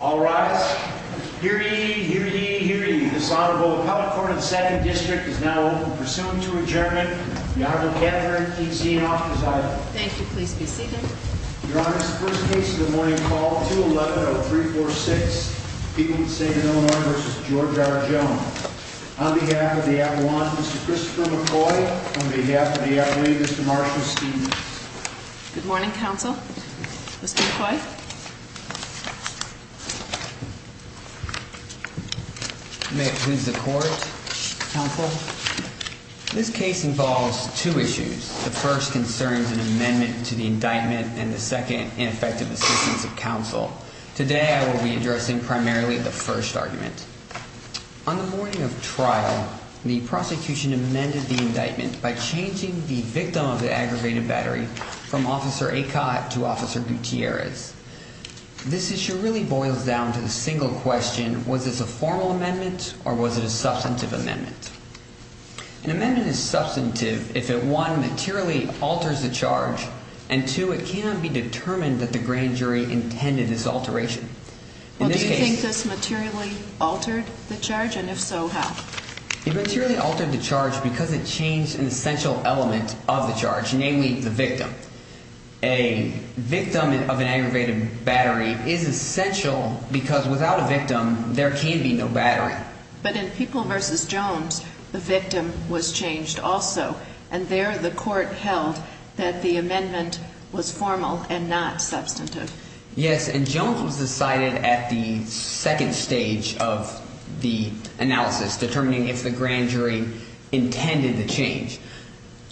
All rise. Hear ye, hear ye, hear ye. This Honorable Appellate Court of the Second District is now open. Pursuant to adjournment, the Honorable Catherine T. Zianoff is idle. Thank you. Please be seated. Your Honor, this is the first case of the morning, called 211-0346, People in St. Illinois v. George R. Jones. On behalf of the Appalachians, Mr. Christopher McCoy. On behalf of the Appalachians, Mr. Marshall Stevens. Good morning, Counsel. Mr. McCoy. May it please the Court, Counsel. This case involves two issues. The first concerns an amendment to the indictment and the second, ineffective assistance of counsel. Today I will be addressing primarily the first argument. On the morning of trial, the prosecution amended the indictment by changing the victim of the aggravated battery from Officer Acott to Officer Gutierrez. This issue really boils down to the single question, was this a formal amendment or was it a substantive amendment? An amendment is substantive if it one, materially alters the charge and two, it cannot be determined that the grand jury intended this alteration. Do you think this materially altered the charge and if so, how? It materially altered the charge because it changed an essential element of the charge, namely the victim. A victim of an aggravated battery is essential because without a victim, there can be no battery. But in People v. Jones, the victim was changed also and there the Court held that the amendment was formal and not substantive. Yes, and Jones was decided at the second stage of the analysis, determining if the grand jury intended the change.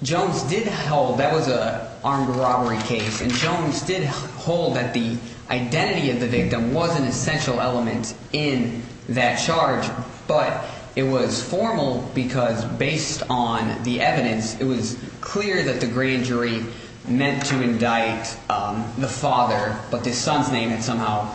Jones did hold that was an armed robbery case and Jones did hold that the identity of the victim was an essential element in that charge, but it was formal because based on the evidence, it was clear that the grand jury meant to indict the father, but the son's name had somehow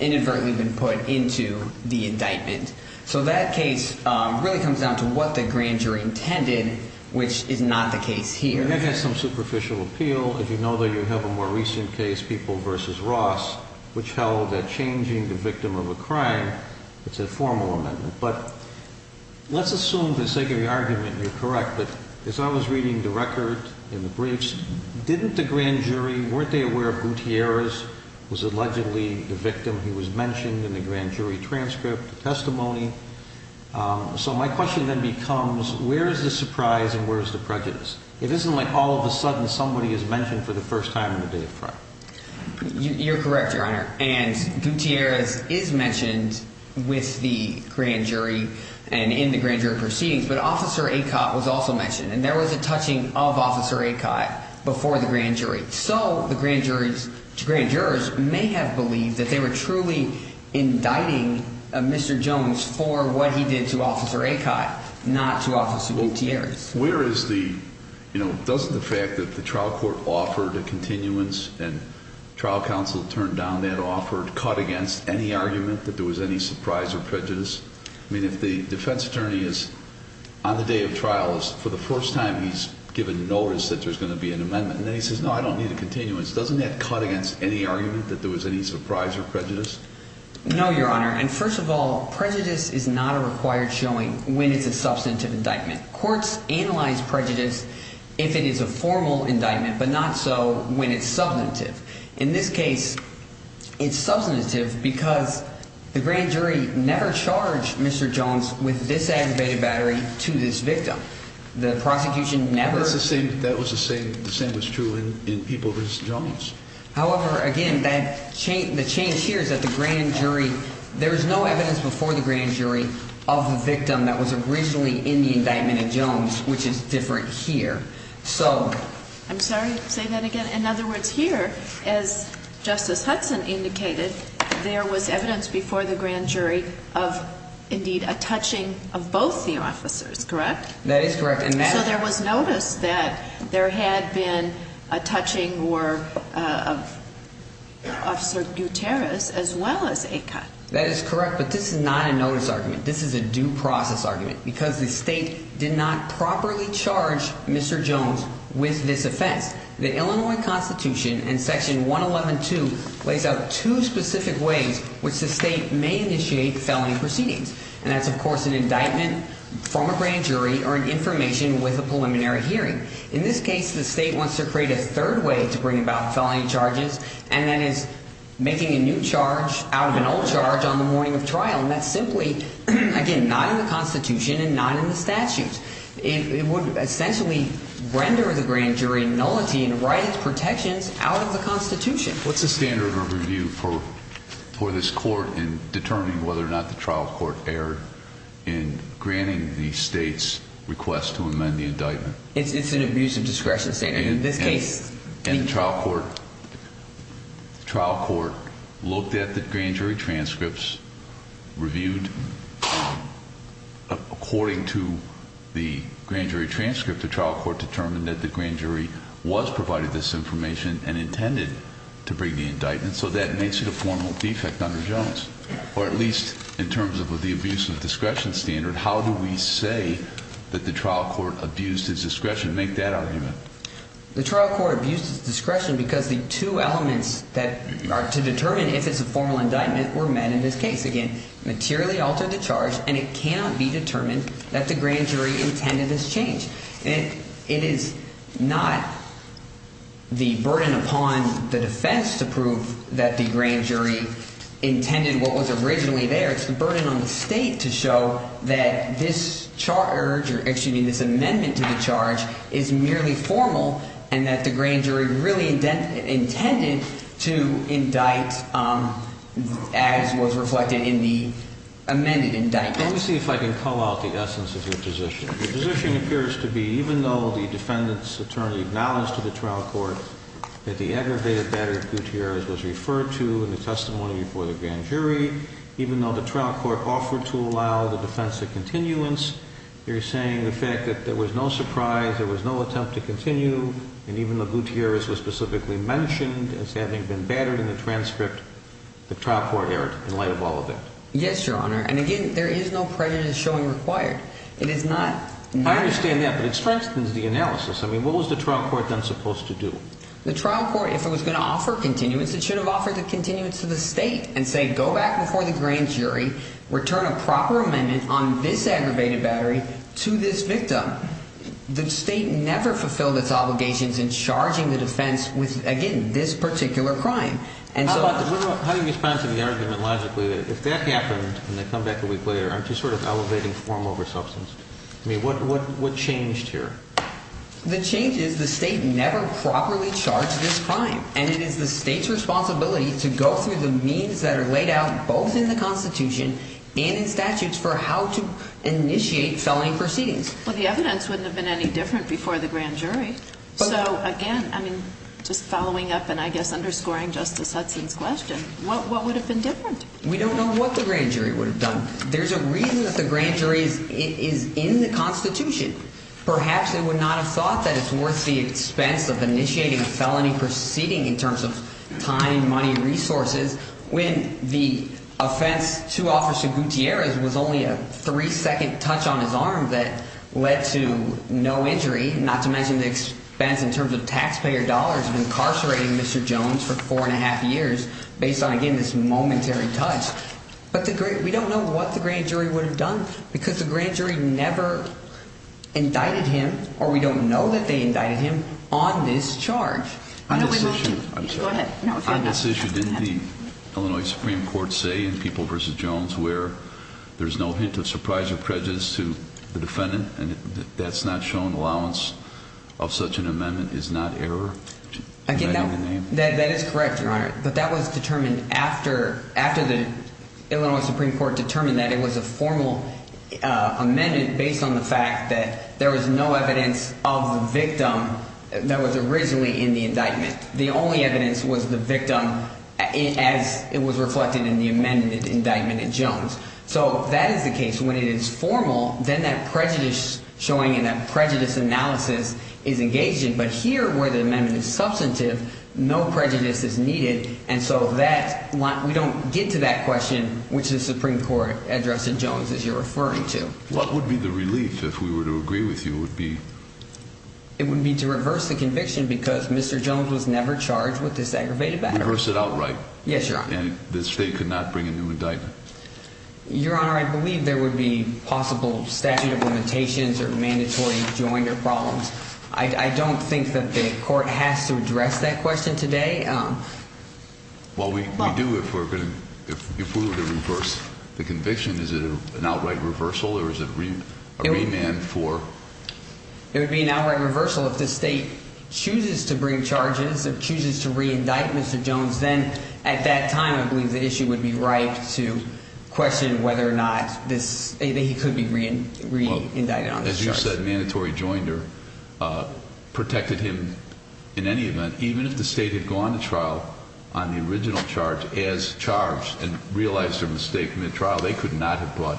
inadvertently been put into the indictment. So that case really comes down to what the grand jury intended, which is not the case here. That has some superficial appeal. If you know that you have a more recent case, People v. Ross, which held that changing the victim of a crime, it's a formal amendment. But let's assume, for the sake of the argument, you're correct, but as I was reading the record in the briefs, didn't the grand jury, weren't they aware of Gutierrez was allegedly the victim? He was mentioned in the grand jury transcript, testimony. So my question then becomes, where is the surprise and where is the prejudice? It isn't like all of a sudden somebody is mentioned for the first time in the day of trial. You're correct, Your Honor, and Gutierrez is mentioned with the grand jury and in the grand jury proceedings, but Officer Acott was also mentioned, and there was a touching of Officer Acott before the grand jury. So the grand jurors may have believed that they were truly indicting Mr. Jones for what he did to Officer Acott, not to Officer Gutierrez. Where is the, you know, doesn't the fact that the trial court offered a continuance and trial counsel turned down that offer cut against any argument that there was any surprise or prejudice? I mean, if the defense attorney is, on the day of trial, for the first time he's given notice that there's going to be an amendment, and then he says, no, I don't need a continuance, doesn't that cut against any argument that there was any surprise or prejudice? No, Your Honor, and first of all, prejudice is not a required showing when it's a substantive indictment. Courts analyze prejudice if it is a formal indictment, but not so when it's substantive. In this case, it's substantive because the grand jury never charged Mr. Jones with this aggravated battery to this victim. The prosecution never. That's the same, that was the same, the same was true in Ibovis Jones. However, again, the change here is that the grand jury, there is no evidence before the grand jury of the victim that was originally in the indictment of Jones, which is different here. I'm sorry, say that again? In other words, here, as Justice Hudson indicated, there was evidence before the grand jury of, indeed, a touching of both the officers, correct? That is correct. So there was notice that there had been a touching of Officer Gutierrez as well as a cut. That is correct, but this is not a notice argument. This is a due process argument because the state did not properly charge Mr. Jones with this offense. The Illinois Constitution in Section 111.2 lays out two specific ways which the state may initiate felony proceedings, and that's, of course, an indictment from a grand jury or an information with a preliminary hearing. In this case, the state wants to create a third way to bring about felony charges, and that is making a new charge out of an old charge on the morning of trial, and that's simply, again, not in the Constitution and not in the statutes. It would essentially render the grand jury nullity and write its protections out of the Constitution. What's the standard of review for this court in determining whether or not the trial court erred in granting the state's request to amend the indictment? It's an abuse of discretion standard. In this case, the trial court looked at the grand jury transcripts, reviewed. According to the grand jury transcript, the trial court determined that the grand jury was provided this information and intended to bring the indictment, so that makes it a formal defect under Jones. Or at least in terms of the abuse of discretion standard, how do we say that the trial court abused its discretion? Make that argument. The trial court abused its discretion because the two elements that are to determine if it's a formal indictment were met in this case. Again, materially altered the charge, and it cannot be determined that the grand jury intended this change. It is not the burden upon the defense to prove that the grand jury intended what was originally there. It's the burden on the state to show that this amendment to the charge is merely formal and that the grand jury really intended to indict as was reflected in the amended indictment. Let me see if I can call out the essence of your position. Your position appears to be, even though the defendant's attorney acknowledged to the trial court that the aggravated battery of Gutierrez was referred to in the testimony before the grand jury, even though the trial court offered to allow the defense a continuance, you're saying the fact that there was no surprise, there was no attempt to continue, and even though Gutierrez was specifically mentioned as having been battered in the transcript, the trial court erred in light of all of that. Yes, Your Honor. And again, there is no prejudice showing required. It is not... I understand that, but it strengthens the analysis. I mean, what was the trial court then supposed to do? The trial court, if it was going to offer continuance, it should have offered a continuance to the state and say, go back before the grand jury, return a proper amendment on this aggravated battery to this victim. The state never fulfilled its obligations in charging the defense with, again, this particular crime. How do you respond to the argument, logically, that if that happened and they come back a week later, aren't you sort of elevating form over substance? I mean, what changed here? The change is the state never properly charged this crime, and it is the state's responsibility to go through the means that are laid out both in the Constitution and in statutes for how to initiate felony proceedings. Well, the evidence wouldn't have been any different before the grand jury. So, again, I mean, just following up and I guess underscoring Justice Hudson's question, what would have been different? We don't know what the grand jury would have done. There's a reason that the grand jury is in the Constitution. Perhaps they would not have thought that it's worth the expense of initiating a felony proceeding in terms of time, money, resources, when the offense to Officer Gutierrez was only a three-second touch on his arm that led to no injury, not to mention the expense in terms of taxpayer dollars of incarcerating Mr. Jones for four and a half years based on, again, this momentary touch. But we don't know what the grand jury would have done because the grand jury never indicted him, or we don't know that they indicted him, on this charge. On this issue, didn't the Illinois Supreme Court say in People v. Jones where there's no hint of surprise or prejudice to the defendant and that's not shown allowance of such an amendment is not error? Again, that is correct, Your Honor, but that was determined after the Illinois Supreme Court determined that it was a formal amendment based on the fact that there was no evidence of the victim that was originally in the indictment. The only evidence was the victim as it was reflected in the amended indictment in Jones. So that is the case. When it is formal, then that prejudice showing and that prejudice analysis is engaged in. But here where the amendment is substantive, no prejudice is needed, and so we don't get to that question, which the Supreme Court addressed in Jones, as you're referring to. What would be the relief if we were to agree with you? It would be to reverse the conviction because Mr. Jones was never charged with this aggravated battery. Reverse it outright? Yes, Your Honor. And the state could not bring a new indictment? Your Honor, I believe there would be possible statute of limitations or mandatory joint or problems. I don't think that the court has to address that question today. Well, we do if we were to reverse the conviction. Is it an outright reversal or is it a remand for? It would be an outright reversal if the state chooses to bring charges, chooses to reindict Mr. Jones, then at that time I believe the issue would be right to question whether or not he could be reindicted on his charges. As you said, mandatory joinder protected him in any event, even if the state had gone to trial on the original charge as charged and realized their mistake in the trial, they could not have brought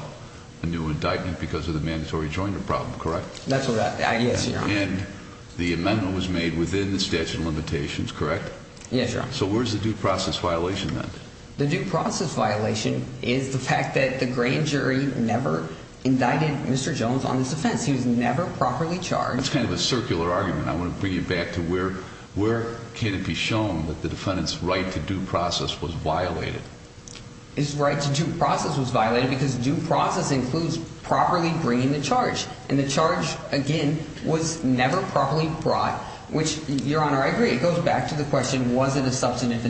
a new indictment because of the mandatory joinder problem, correct? That's right. Yes, Your Honor. And the amendment was made within the statute of limitations, correct? Yes, Your Honor. So where's the due process violation then? The due process violation is the fact that the grand jury never indicted Mr. Jones on his offense. He was never properly charged. That's kind of a circular argument. I want to bring you back to where can it be shown that the defendant's right to due process was violated? His right to due process was violated because due process includes properly bringing the charge, and the charge, again, was never properly brought, which, Your Honor, I agree. But it goes back to the question, was it a substantive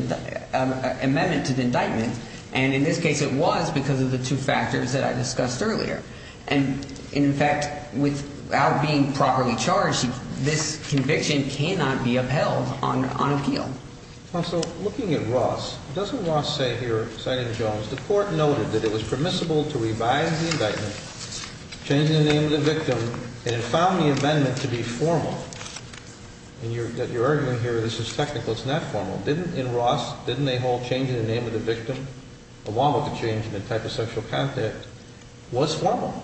amendment to the indictment? And in this case, it was because of the two factors that I discussed earlier. And, in fact, without being properly charged, this conviction cannot be upheld on appeal. Counsel, looking at Ross, doesn't Ross say here, citing Jones, the court noted that it was permissible to revise the indictment, change the name of the victim, and it found the amendment to be formal? And you're arguing here this is technical. It's not formal. In Ross, didn't they hold changing the name of the victim along with the change in the type of sexual contact was formal?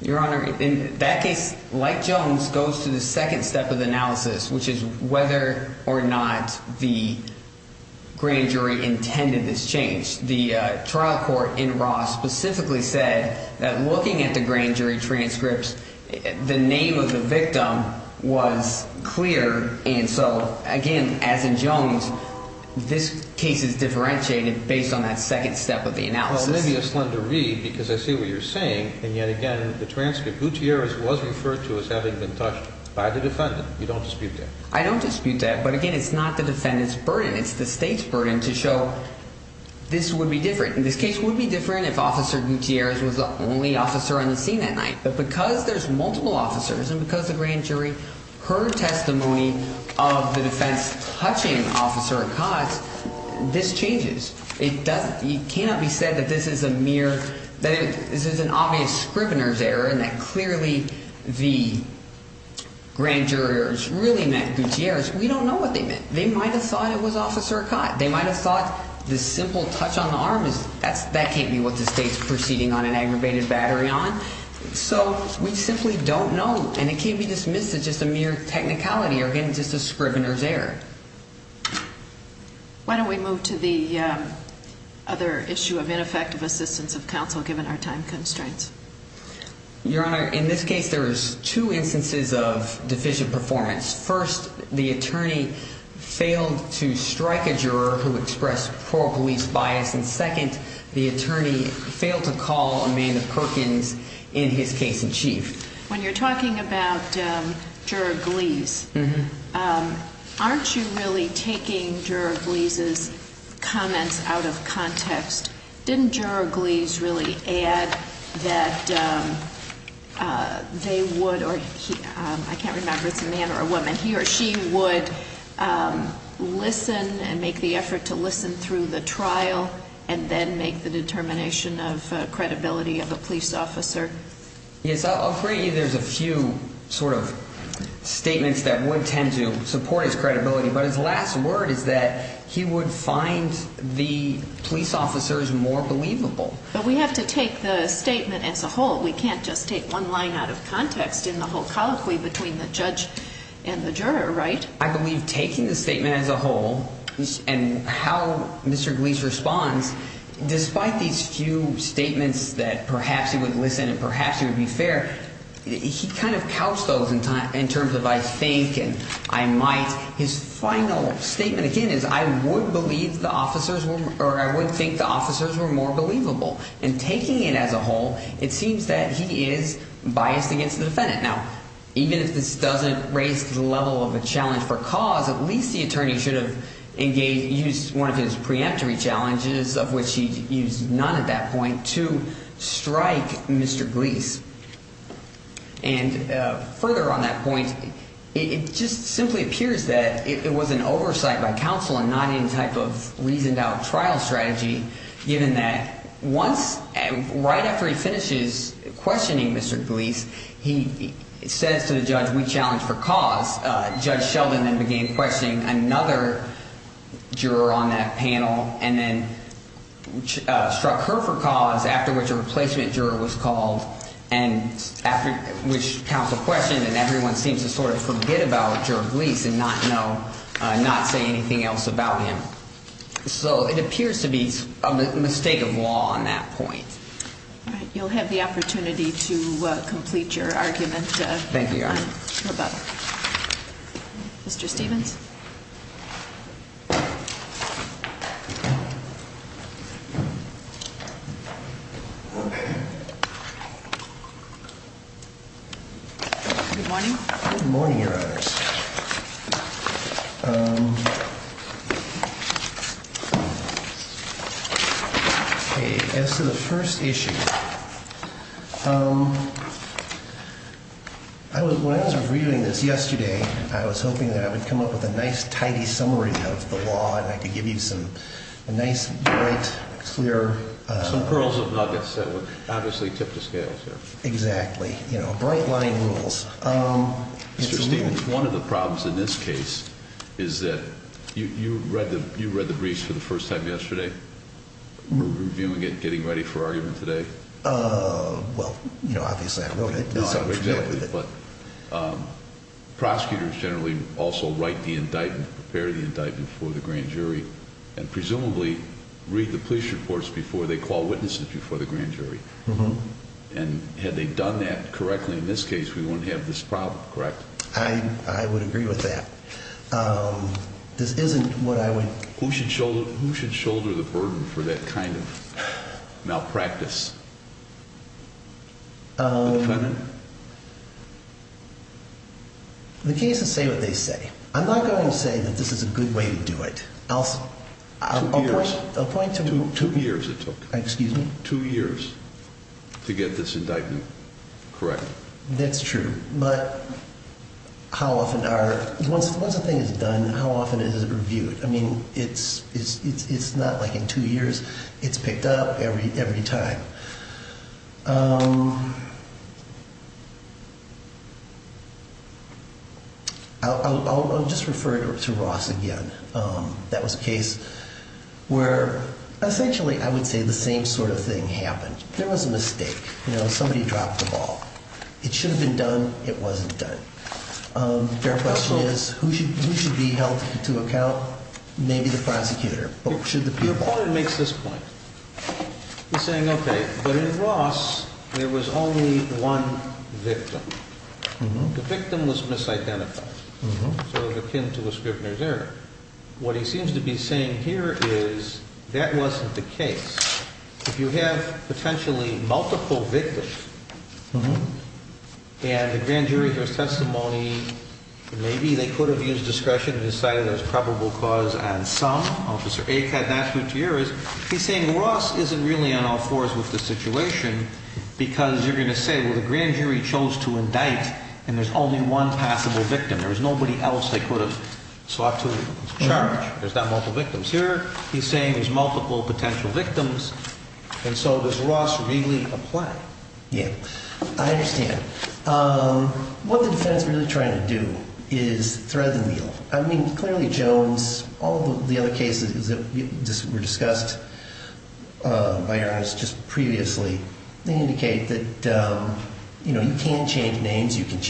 Your Honor, in that case, like Jones, goes to the second step of the analysis, which is whether or not the grand jury intended this change. The trial court in Ross specifically said that looking at the grand jury transcripts, the name of the victim was clear, and so, again, as in Jones, this case is differentiated based on that second step of the analysis. Well, maybe a slender read because I see what you're saying, and yet again, the transcript, Gutierrez was referred to as having been touched by the defendant. You don't dispute that? I don't dispute that. But, again, it's not the defendant's burden. It's the state's burden to show this would be different. In this case, it would be different if Officer Gutierrez was the only officer on the scene that night. But because there's multiple officers and because the grand jury heard testimony of the defense touching Officer Acas, this changes. It cannot be said that this is a mere – that this is an obvious scrivener's error and that clearly the grand jurors really meant Gutierrez. We don't know what they meant. They might have thought it was Officer Acas. They might have thought the simple touch on the arm, that can't be what the state's proceeding on an aggravated battery on. So we simply don't know, and it can't be dismissed as just a mere technicality or, again, just a scrivener's error. Why don't we move to the other issue of ineffective assistance of counsel given our time constraints? Your Honor, in this case, there is two instances of deficient performance. First, the attorney failed to strike a juror who expressed poor police bias, and second, the attorney failed to call Amanda Perkins in his case in chief. When you're talking about Juror Glees, aren't you really taking Juror Glees' comments out of context? Didn't Juror Glees really add that they would – I can't remember if it's a man or a woman – he or she would listen and make the effort to listen through the trial and then make the determination of credibility of a police officer? Yes, I'll agree there's a few sort of statements that would tend to support his credibility, but his last word is that he would find the police officers more believable. But we have to take the statement as a whole. We can't just take one line out of context in the whole colloquy between the judge and the juror, right? I believe taking the statement as a whole and how Mr. Glees responds, despite these few statements that perhaps he would listen and perhaps he would be fair, he kind of couched those in terms of I think and I might. His final statement again is I would believe the officers – or I would think the officers were more believable. And taking it as a whole, it seems that he is biased against the defendant. Now, even if this doesn't raise the level of a challenge for cause, at least the attorney should have engaged – used one of his preemptory challenges, of which he used none at that point, to strike Mr. Glees. And further on that point, it just simply appears that it was an oversight by counsel and not any type of reasoned out trial strategy given that once – right after he finishes questioning Mr. Glees, he says to the judge we challenge for cause. Judge Sheldon then began questioning another juror on that panel and then struck her for cause, after which a replacement juror was called and after which counsel questioned and everyone seems to sort of forget about Juror Glees and not know – not say anything else about him. So it appears to be a mistake of law on that point. All right. You'll have the opportunity to complete your argument. Thank you, Your Honor. Mr. Stephens. Good morning. Good morning, Your Honors. Okay. As to the first issue, I was – when I was reviewing this yesterday, I was hoping that I would come up with a nice, tidy summary of the law and I could give you some nice, bright, clear – Some pearls of nuggets that would obviously tip the scales here. Exactly. You know, bright-lining rules. Mr. Stephens, one of the problems in this case is that – you read the briefs for the first time yesterday? Reviewing it, getting ready for argument today? Well, you know, obviously I'm familiar with it. Exactly. But prosecutors generally also write the indictment, prepare the indictment for the grand jury and presumably read the police reports before they call witnesses before the grand jury. And had they done that correctly in this case, we wouldn't have this problem, correct? I would agree with that. This isn't what I would – Who should shoulder the burden for that kind of malpractice? The defendant? The cases say what they say. I'm not going to say that this is a good way to do it. Two years. I'll point to – Two years it took. Excuse me? Two years to get this indictment correct. That's true. But how often are – once a thing is done, how often is it reviewed? I mean, it's not like in two years. It's picked up every time. I'll just refer to Ross again. That was a case where essentially I would say the same sort of thing happened. There was a mistake. You know, somebody dropped the ball. It should have been done. It wasn't done. Their question is who should be held to account? Maybe the prosecutor. Your partner makes this point. He's saying, okay, but in Ross there was only one victim. The victim was misidentified. So it was akin to a scrivener's error. What he seems to be saying here is that wasn't the case. If you have potentially multiple victims and the grand jury has testimony, maybe they could have used discretion and decided there was probable cause on some. Officer Aik had that two years. He's saying Ross isn't really on all fours with the situation because you're going to say, well, the grand jury chose to indict and there's only one possible victim. There was nobody else they could have sought to charge. There's not multiple victims here. He's saying there's multiple potential victims. And so does Ross really apply? Yeah, I understand. What the defense really trying to do is thread the needle. I mean, clearly, Jones, all the other cases that were discussed, just previously indicate that you can change names. You can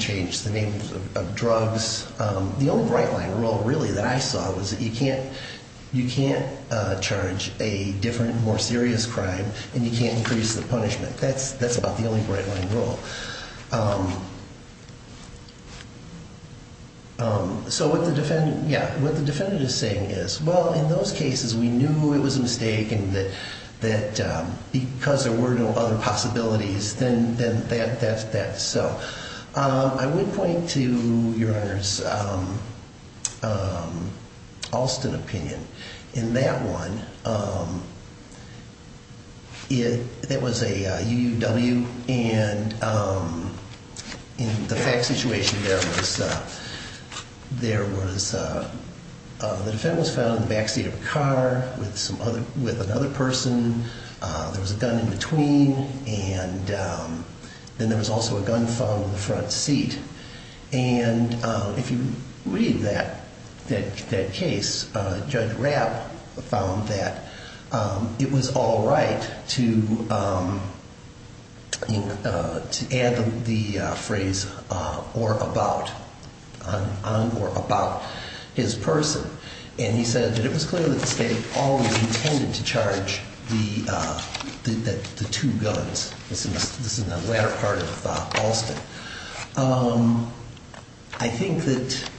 change the names of drugs. The only bright line rule really that I saw was that you can't charge a different, more serious crime and you can't increase the punishment. That's about the only bright line rule. So what the defendant is saying is, well, in those cases, we knew it was a mistake and that because there were no other possibilities, then that's that. So I would point to your Honor's Alston opinion. In that one, it was a UUW and in the fact situation, the defendant was found in the backseat of a car with another person. There was a gun in between and then there was also a gun found in the front seat. And if you read that case, Judge Rapp found that it was all right to add the phrase on or about his person. And he said that it was clear that the state always intended to charge the two guns. This is the latter part of Alston. I think that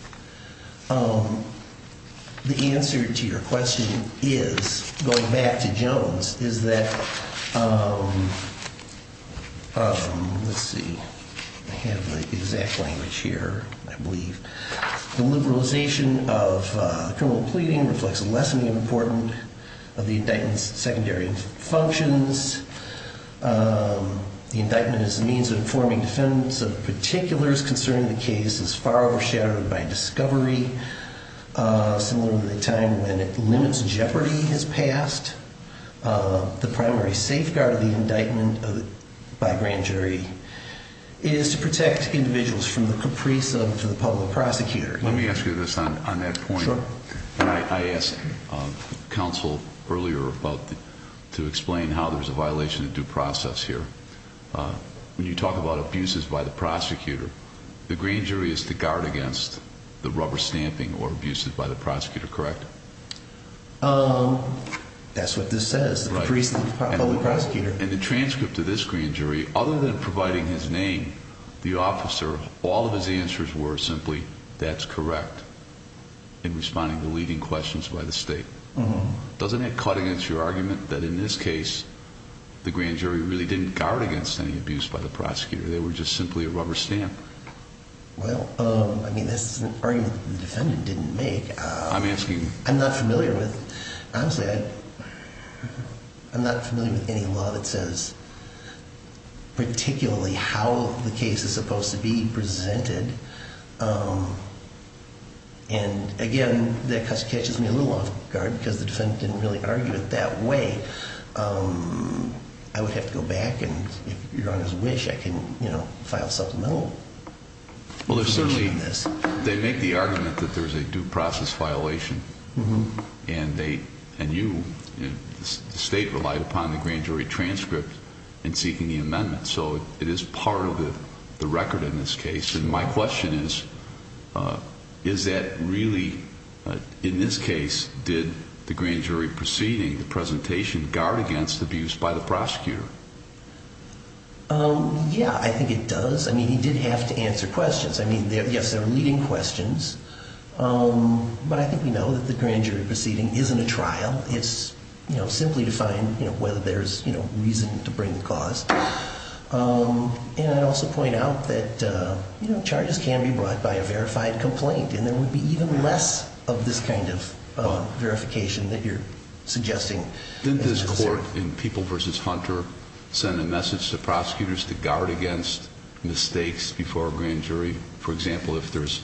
the answer to your question is, going back to Jones, is that, let's see. I have the exact language here, I believe. The liberalization of criminal pleading reflects a lessening of importance of the indictment's secondary functions. The indictment is a means of informing defendants of particulars concerning the case as far overshadowed by discovery. Similar to the time when it limits jeopardy has passed. The primary safeguard of the indictment by grand jury is to protect individuals from the caprice of the public prosecutor. Let me ask you this on that point. I asked counsel earlier to explain how there's a violation of due process here. When you talk about abuses by the prosecutor, the grand jury is to guard against the rubber stamping or abuses by the prosecutor, correct? That's what this says, the caprice of the public prosecutor. In the transcript of this grand jury, other than providing his name, the officer, all of his answers were simply, that's correct in responding to leading questions by the state. Doesn't that cut against your argument that in this case, the grand jury really didn't guard against any abuse by the prosecutor? They were just simply a rubber stamp. Well, I mean, this is an argument the defendant didn't make. I'm asking you. I'm not familiar with, honestly, I'm not familiar with any law that says particularly how the case is supposed to be presented. And, again, that kind of catches me a little off guard because the defendant didn't really argue it that way. I would have to go back, and if Your Honor's wish, I can file a supplemental. Well, there's certainly, they make the argument that there's a due process violation. And you, the state, relied upon the grand jury transcript in seeking the amendment. So it is part of the record in this case. And my question is, is that really, in this case, did the grand jury proceeding, the presentation, guard against abuse by the prosecutor? Yeah, I think it does. I mean, he did have to answer questions. I mean, yes, there are leading questions. But I think we know that the grand jury proceeding isn't a trial. It's simply to find whether there's reason to bring the cause. And I'd also point out that charges can be brought by a verified complaint, and there would be even less of this kind of verification that you're suggesting. Didn't this court in People v. Hunter send a message to prosecutors to guard against mistakes before a grand jury? For example, if there's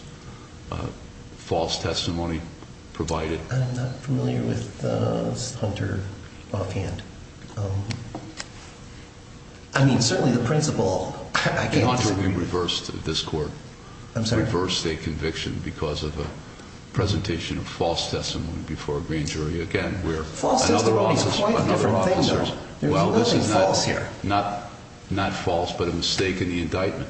false testimony provided? I'm not familiar with Hunter offhand. I mean, certainly the principal, I can't say. In Hunter, we reversed this court. I'm sorry? Reversed a conviction because of a presentation of false testimony before a grand jury. Again, we're another officer. False testimony is quite a different thing, though. There's nothing false here. Not false, but a mistake in the indictment.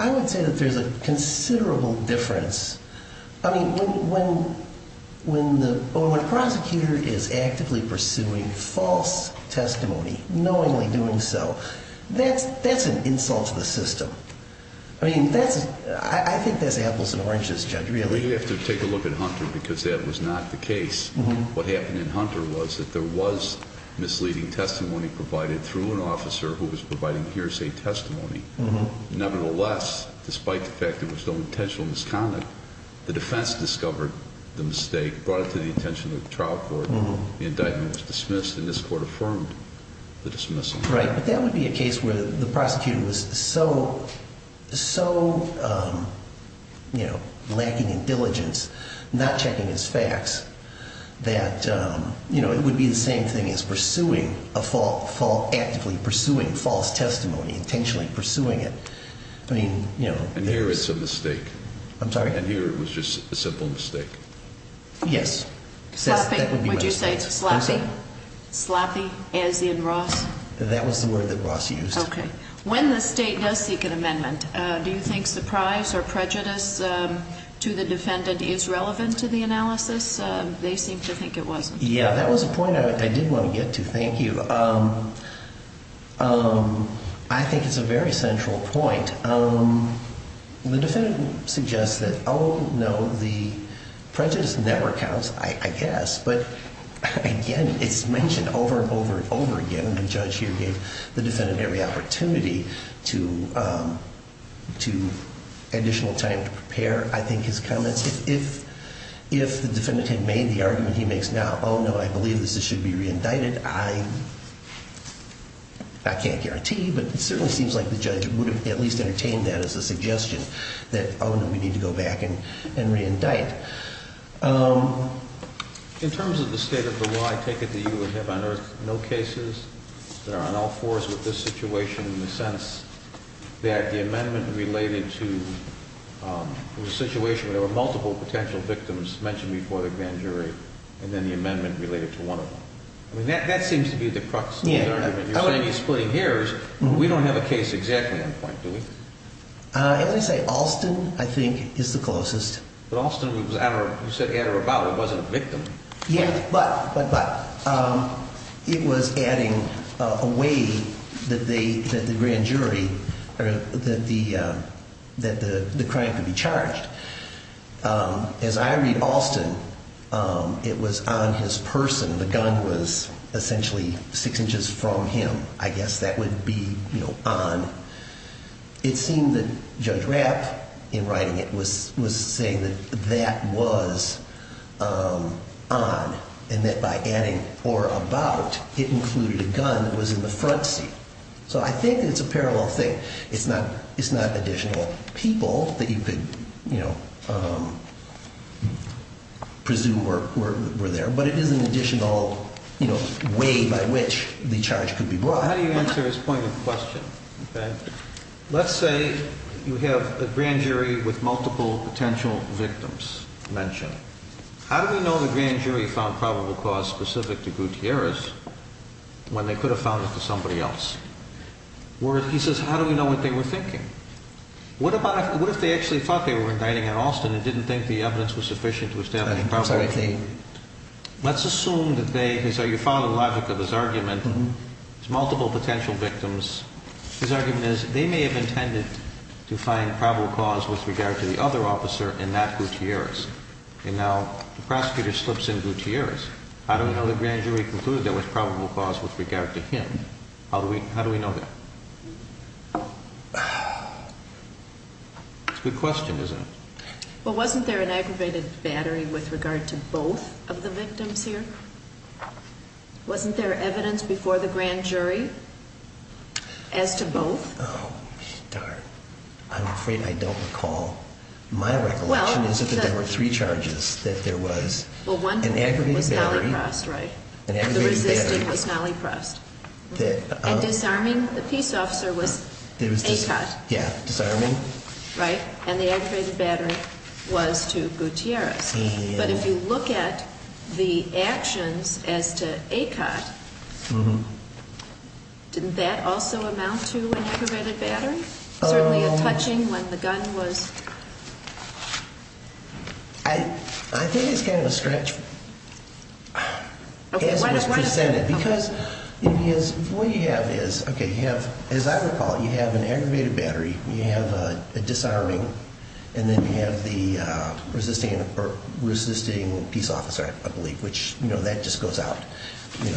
I would say that there's a considerable difference. I mean, when the prosecutor is actively pursuing false testimony, knowingly doing so, that's an insult to the system. I mean, I think that's apples and oranges, Judge, really. We have to take a look at Hunter because that was not the case. What happened in Hunter was that there was misleading testimony provided through an officer who was providing hearsay testimony. Nevertheless, despite the fact there was no intentional misconduct, the defense discovered the mistake, brought it to the attention of the trial court, the indictment was dismissed, and this court affirmed the dismissal. Right, but that would be a case where the prosecutor was so lacking in diligence, not checking his facts, that it would be the same thing as pursuing a false, actively pursuing false testimony, intentionally pursuing it. I mean, you know. And here it's a mistake. I'm sorry? And here it was just a simple mistake. Yes. Sloppy. Would you say it's sloppy? Sloppy, as in Ross? That was the word that Ross used. Okay. When the state does seek an amendment, do you think surprise or prejudice to the defendant is relevant to the analysis? They seem to think it wasn't. Yeah, that was a point I did want to get to. Thank you. I think it's a very central point. The defendant suggests that, oh, no, the prejudice never counts, I guess, but, again, it's mentioned over and over and over again. The judge here gave the defendant every opportunity to additional time to prepare, I think, his comments. If the defendant had made the argument he makes now, oh, no, I believe this should be reindicted, I can't guarantee, but it certainly seems like the judge would have at least entertained that as a suggestion, that, oh, no, we need to go back and reindict. In terms of the state of the law, I take it that you would have on earth no cases that are on all fours with this situation in the sense that the amendment related to the situation where there were multiple potential victims mentioned before the grand jury and then the amendment related to one of them. I mean, that seems to be the crux of the matter. I mean, you're saying you're splitting hairs, but we don't have a case exactly on point, do we? I would say Alston, I think, is the closest. But Alston, you said Anna Rabaul wasn't a victim. Yeah, but it was adding a way that the grand jury or that the crime could be charged. As I read Alston, it was on his person. The gun was essentially six inches from him. I guess that would be, you know, on. It seemed that Judge Rapp, in writing it, was saying that that was on, and that by adding or about, it included a gun that was in the front seat. So I think it's a parallel thing. It's not additional people that you could, you know, presume were there, but it is an additional, you know, way by which the charge could be brought. Well, how do you answer his point of question? Let's say you have a grand jury with multiple potential victims mentioned. How do we know the grand jury found probable cause specific to Gutierrez when they could have found it to somebody else? He says, how do we know what they were thinking? What if they actually thought they were indicting an Alston and didn't think the evidence was sufficient to establish probable cause? Let's assume that they, so you follow the logic of his argument. There's multiple potential victims. His argument is they may have intended to find probable cause with regard to the other officer and not Gutierrez. And now the prosecutor slips in Gutierrez. How do we know the grand jury concluded there was probable cause with regard to him? How do we know that? It's a good question, isn't it? Well, wasn't there an aggravated battery with regard to both of the victims here? Wasn't there evidence before the grand jury as to both? Oh, darn. I'm afraid I don't recall. My recollection is that there were three charges that there was an aggravated battery. Well, one was Nally Prost, right? The resisting was Nally Prost. And disarming the peace officer was ACOT. Yeah, disarming. Right? And the aggravated battery was to Gutierrez. But if you look at the actions as to ACOT, didn't that also amount to an aggravated battery? Certainly a touching when the gun was... I think it's kind of a stretch as it was presented. Because what you have is, as I recall, you have an aggravated battery, you have a disarming, and then you have the resisting peace officer, I believe, which that just goes out. You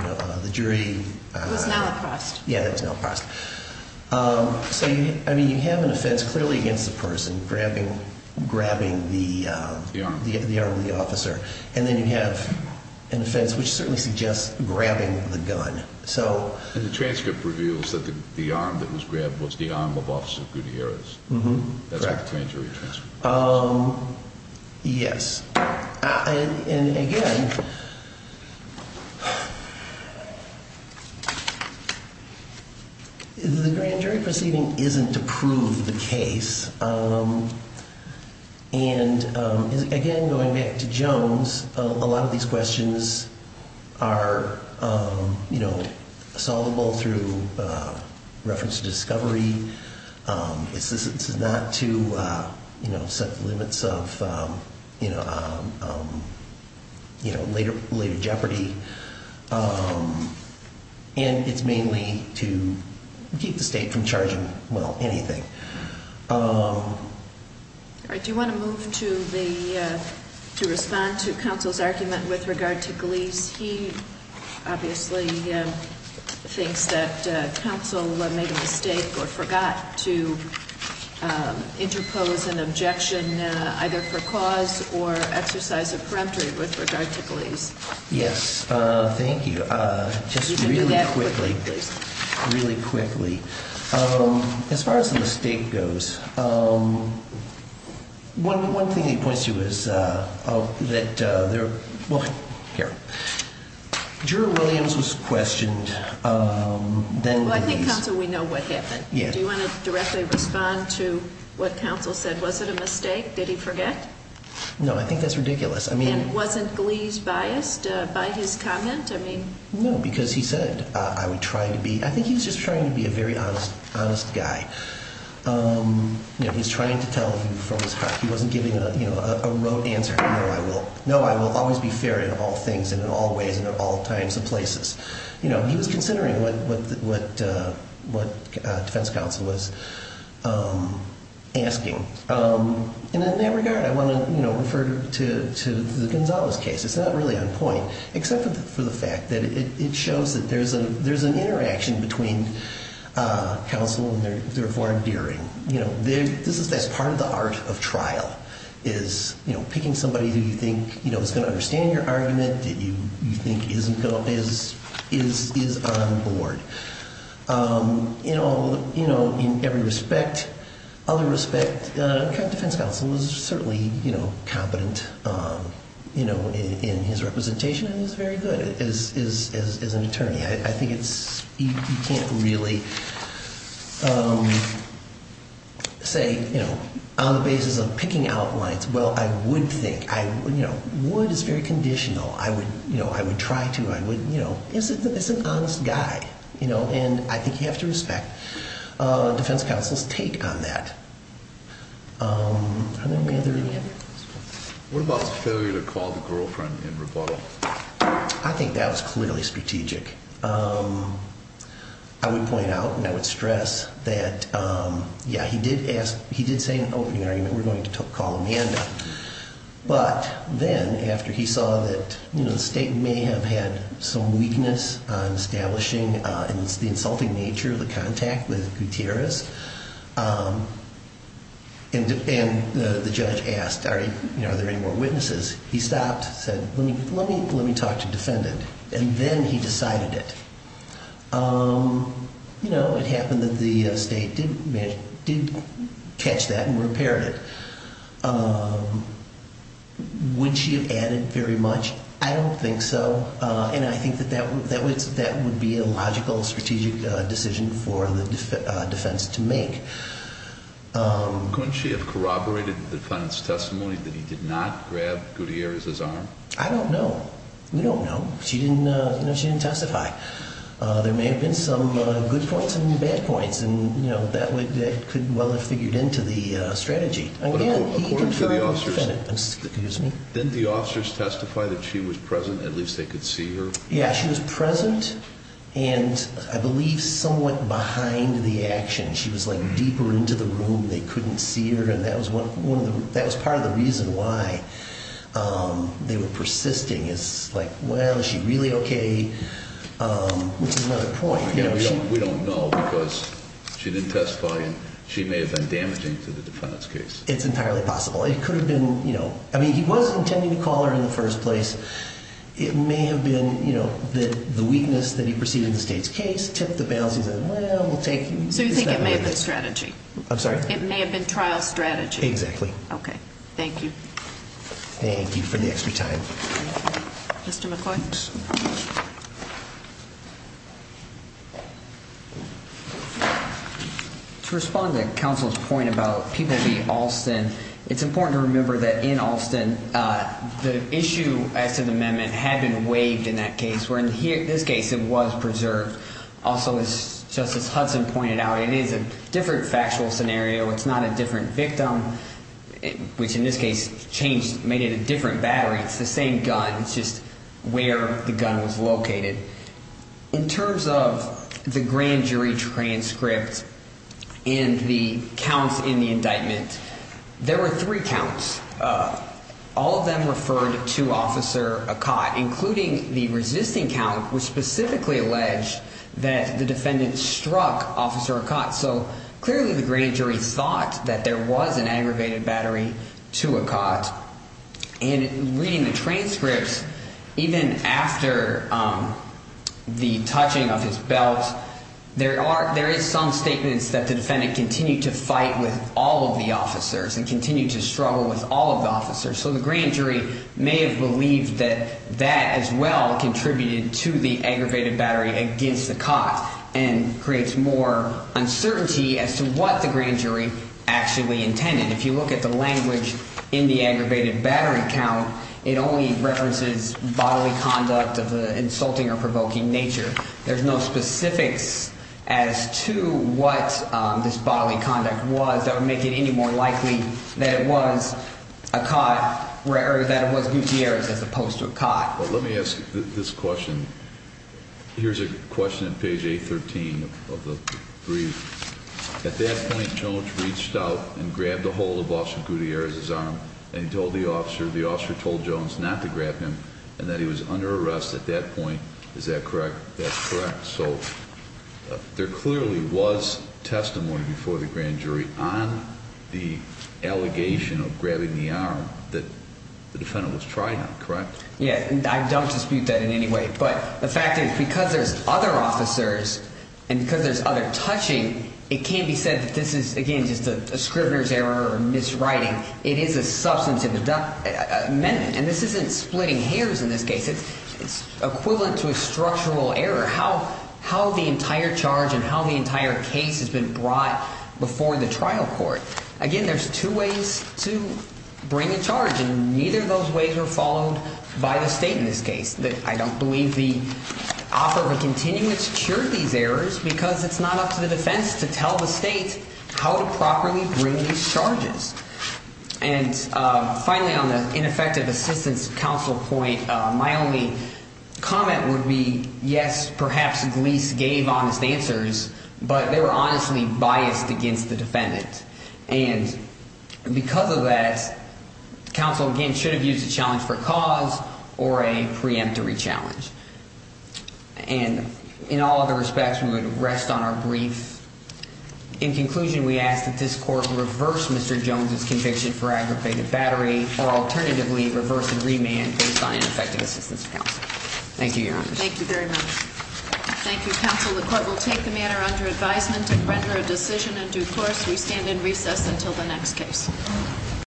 know, the jury... It was Nally Prost. Yeah, that was Nally Prost. So, I mean, you have an offense clearly against the person grabbing the arm of the officer. And then you have an offense which certainly suggests grabbing the gun. And the transcript reveals that the arm that was grabbed was the arm of Officer Gutierrez. That's what the grand jury transcript says. Yes. And again... The grand jury proceeding isn't to prove the case. And again, going back to Jones, a lot of these questions are, you know, solvable through reference to discovery. This is not to, you know, set the limits of, you know, later jeopardy. And it's mainly to keep the state from charging, well, anything. All right. Do you want to move to respond to counsel's argument with regard to Glees? He obviously thinks that counsel made a mistake or forgot to interpose an objection either for cause or exercise of peremptory with regard to Glees. Yes. Thank you. Just really quickly, please. Really quickly. As far as the mistake goes, one thing he points to is that there... Here. Juror Williams was questioned. I think, counsel, we know what happened. Do you want to directly respond to what counsel said? Was it a mistake? Did he forget? No, I think that's ridiculous. And wasn't Glees biased by his comment? No, because he said, I would try to be... I think he was just trying to be a very honest guy. He was trying to tell from his heart. He wasn't giving a rote answer. No, I will always be fair in all things and in all ways and at all times and places. He was considering what defense counsel was asking. And in that regard, I want to refer to the Gonzales case. It's not really on point, except for the fact that it shows that there's an interaction between counsel and their foreign dearing. That's part of the art of trial is picking somebody who you think is going to understand your argument, that you think is on board. In every respect, other respect, defense counsel is certainly competent in his representation and is very good as an attorney. I think you can't really say on the basis of picking outlines, well, I would think... Wood is very conditional. I would try to. He's an honest guy, and I think you have to respect defense counsel's take on that. What about failure to call the girlfriend in rebuttal? I think that was clearly strategic. I would point out and I would stress that, yeah, he did say in the opening argument, we're going to call Amanda. But then, after he saw that the state may have had some weakness on establishing the insulting nature of the contact with Gutierrez, and the judge asked, are there any more witnesses, he stopped, said, let me talk to defendant. And then he decided it. It happened that the state did catch that and repaired it. Would she have added very much? I don't think so. And I think that would be a logical strategic decision for the defense to make. Couldn't she have corroborated the defendant's testimony that he did not grab Gutierrez's arm? I don't know. We don't know. She didn't testify. There may have been some good points and bad points, and that could well have figured into the strategy. According to the officers, didn't the officers testify that she was present, at least they could see her? Yeah, she was present, and I believe somewhat behind the action. She was deeper into the room. They couldn't see her, and that was part of the reason why they were persisting. It's like, well, is she really okay, which is another point. We don't know because she didn't testify, and she may have been damaging to the defendant's case. It's entirely possible. It could have been, you know, I mean, he was intending to call her in the first place. It may have been, you know, the weakness that he perceived in the state's case tipped the balance. He said, well, we'll take it. So you think it may have been strategy? I'm sorry? It may have been trial strategy. Exactly. Okay. Thank you. Thank you for the extra time. Mr. McCoy? To respond to counsel's point about people being Alston, it's important to remember that in Alston, the issue as to the amendment had been waived in that case, where in this case it was preserved. Also, as Justice Hudson pointed out, it is a different factual scenario. It's not a different victim, which in this case changed, made it a different battery. It's the same gun. It's just where the gun was located. In terms of the grand jury transcript and the counts in the indictment, there were three counts. All of them referred to Officer Akat, including the resisting count, which specifically alleged that the defendant struck Officer Akat. So clearly the grand jury thought that there was an aggravated battery to Akat. In reading the transcripts, even after the touching of his belt, there is some statements that the defendant continued to fight with all of the officers and continued to struggle with all of the officers. So the grand jury may have believed that that as well contributed to the aggravated battery against Akat and creates more uncertainty as to what the grand jury actually intended. If you look at the language in the aggravated battery count, it only references bodily conduct of the insulting or provoking nature. There's no specifics as to what this bodily conduct was that would make it any more likely that it was Akat, or that it was Gutierrez as opposed to Akat. Let me ask this question. Here's a question on page 813 of the brief. At that point, Jones reached out and grabbed a hold of Officer Gutierrez's arm and told the officer, the officer told Jones not to grab him and that he was under arrest at that point. Is that correct? That's correct. So there clearly was testimony before the grand jury on the allegation of grabbing the arm that the defendant was trying on, correct? Yeah, and I don't dispute that in any way. But the fact is because there's other officers and because there's other touching, it can be said that this is, again, just a scrivener's error or miswriting. It is a substantive amendment, and this isn't splitting hairs in this case. It's equivalent to a structural error, how the entire charge and how the entire case has been brought before the trial court. Again, there's two ways to bring a charge, and neither of those ways were followed by the state in this case. I don't believe the offer of a continuance cured these errors because it's not up to the defense to tell the state how to properly bring these charges. And finally, on the ineffective assistance counsel point, my only comment would be, yes, perhaps Glees gave honest answers, but they were honestly biased against the defendant. And because of that, counsel, again, should have used a challenge for cause or a preemptory challenge. And in all other respects, we would rest on our brief. In conclusion, we ask that this court reverse Mr. Jones's conviction for aggravated battery or alternatively reverse and remand based on ineffective assistance counsel. Thank you, Your Honor. Thank you very much. Thank you, counsel. The court will take the matter under advisement and render a decision in due course. We stand in recess until the next case.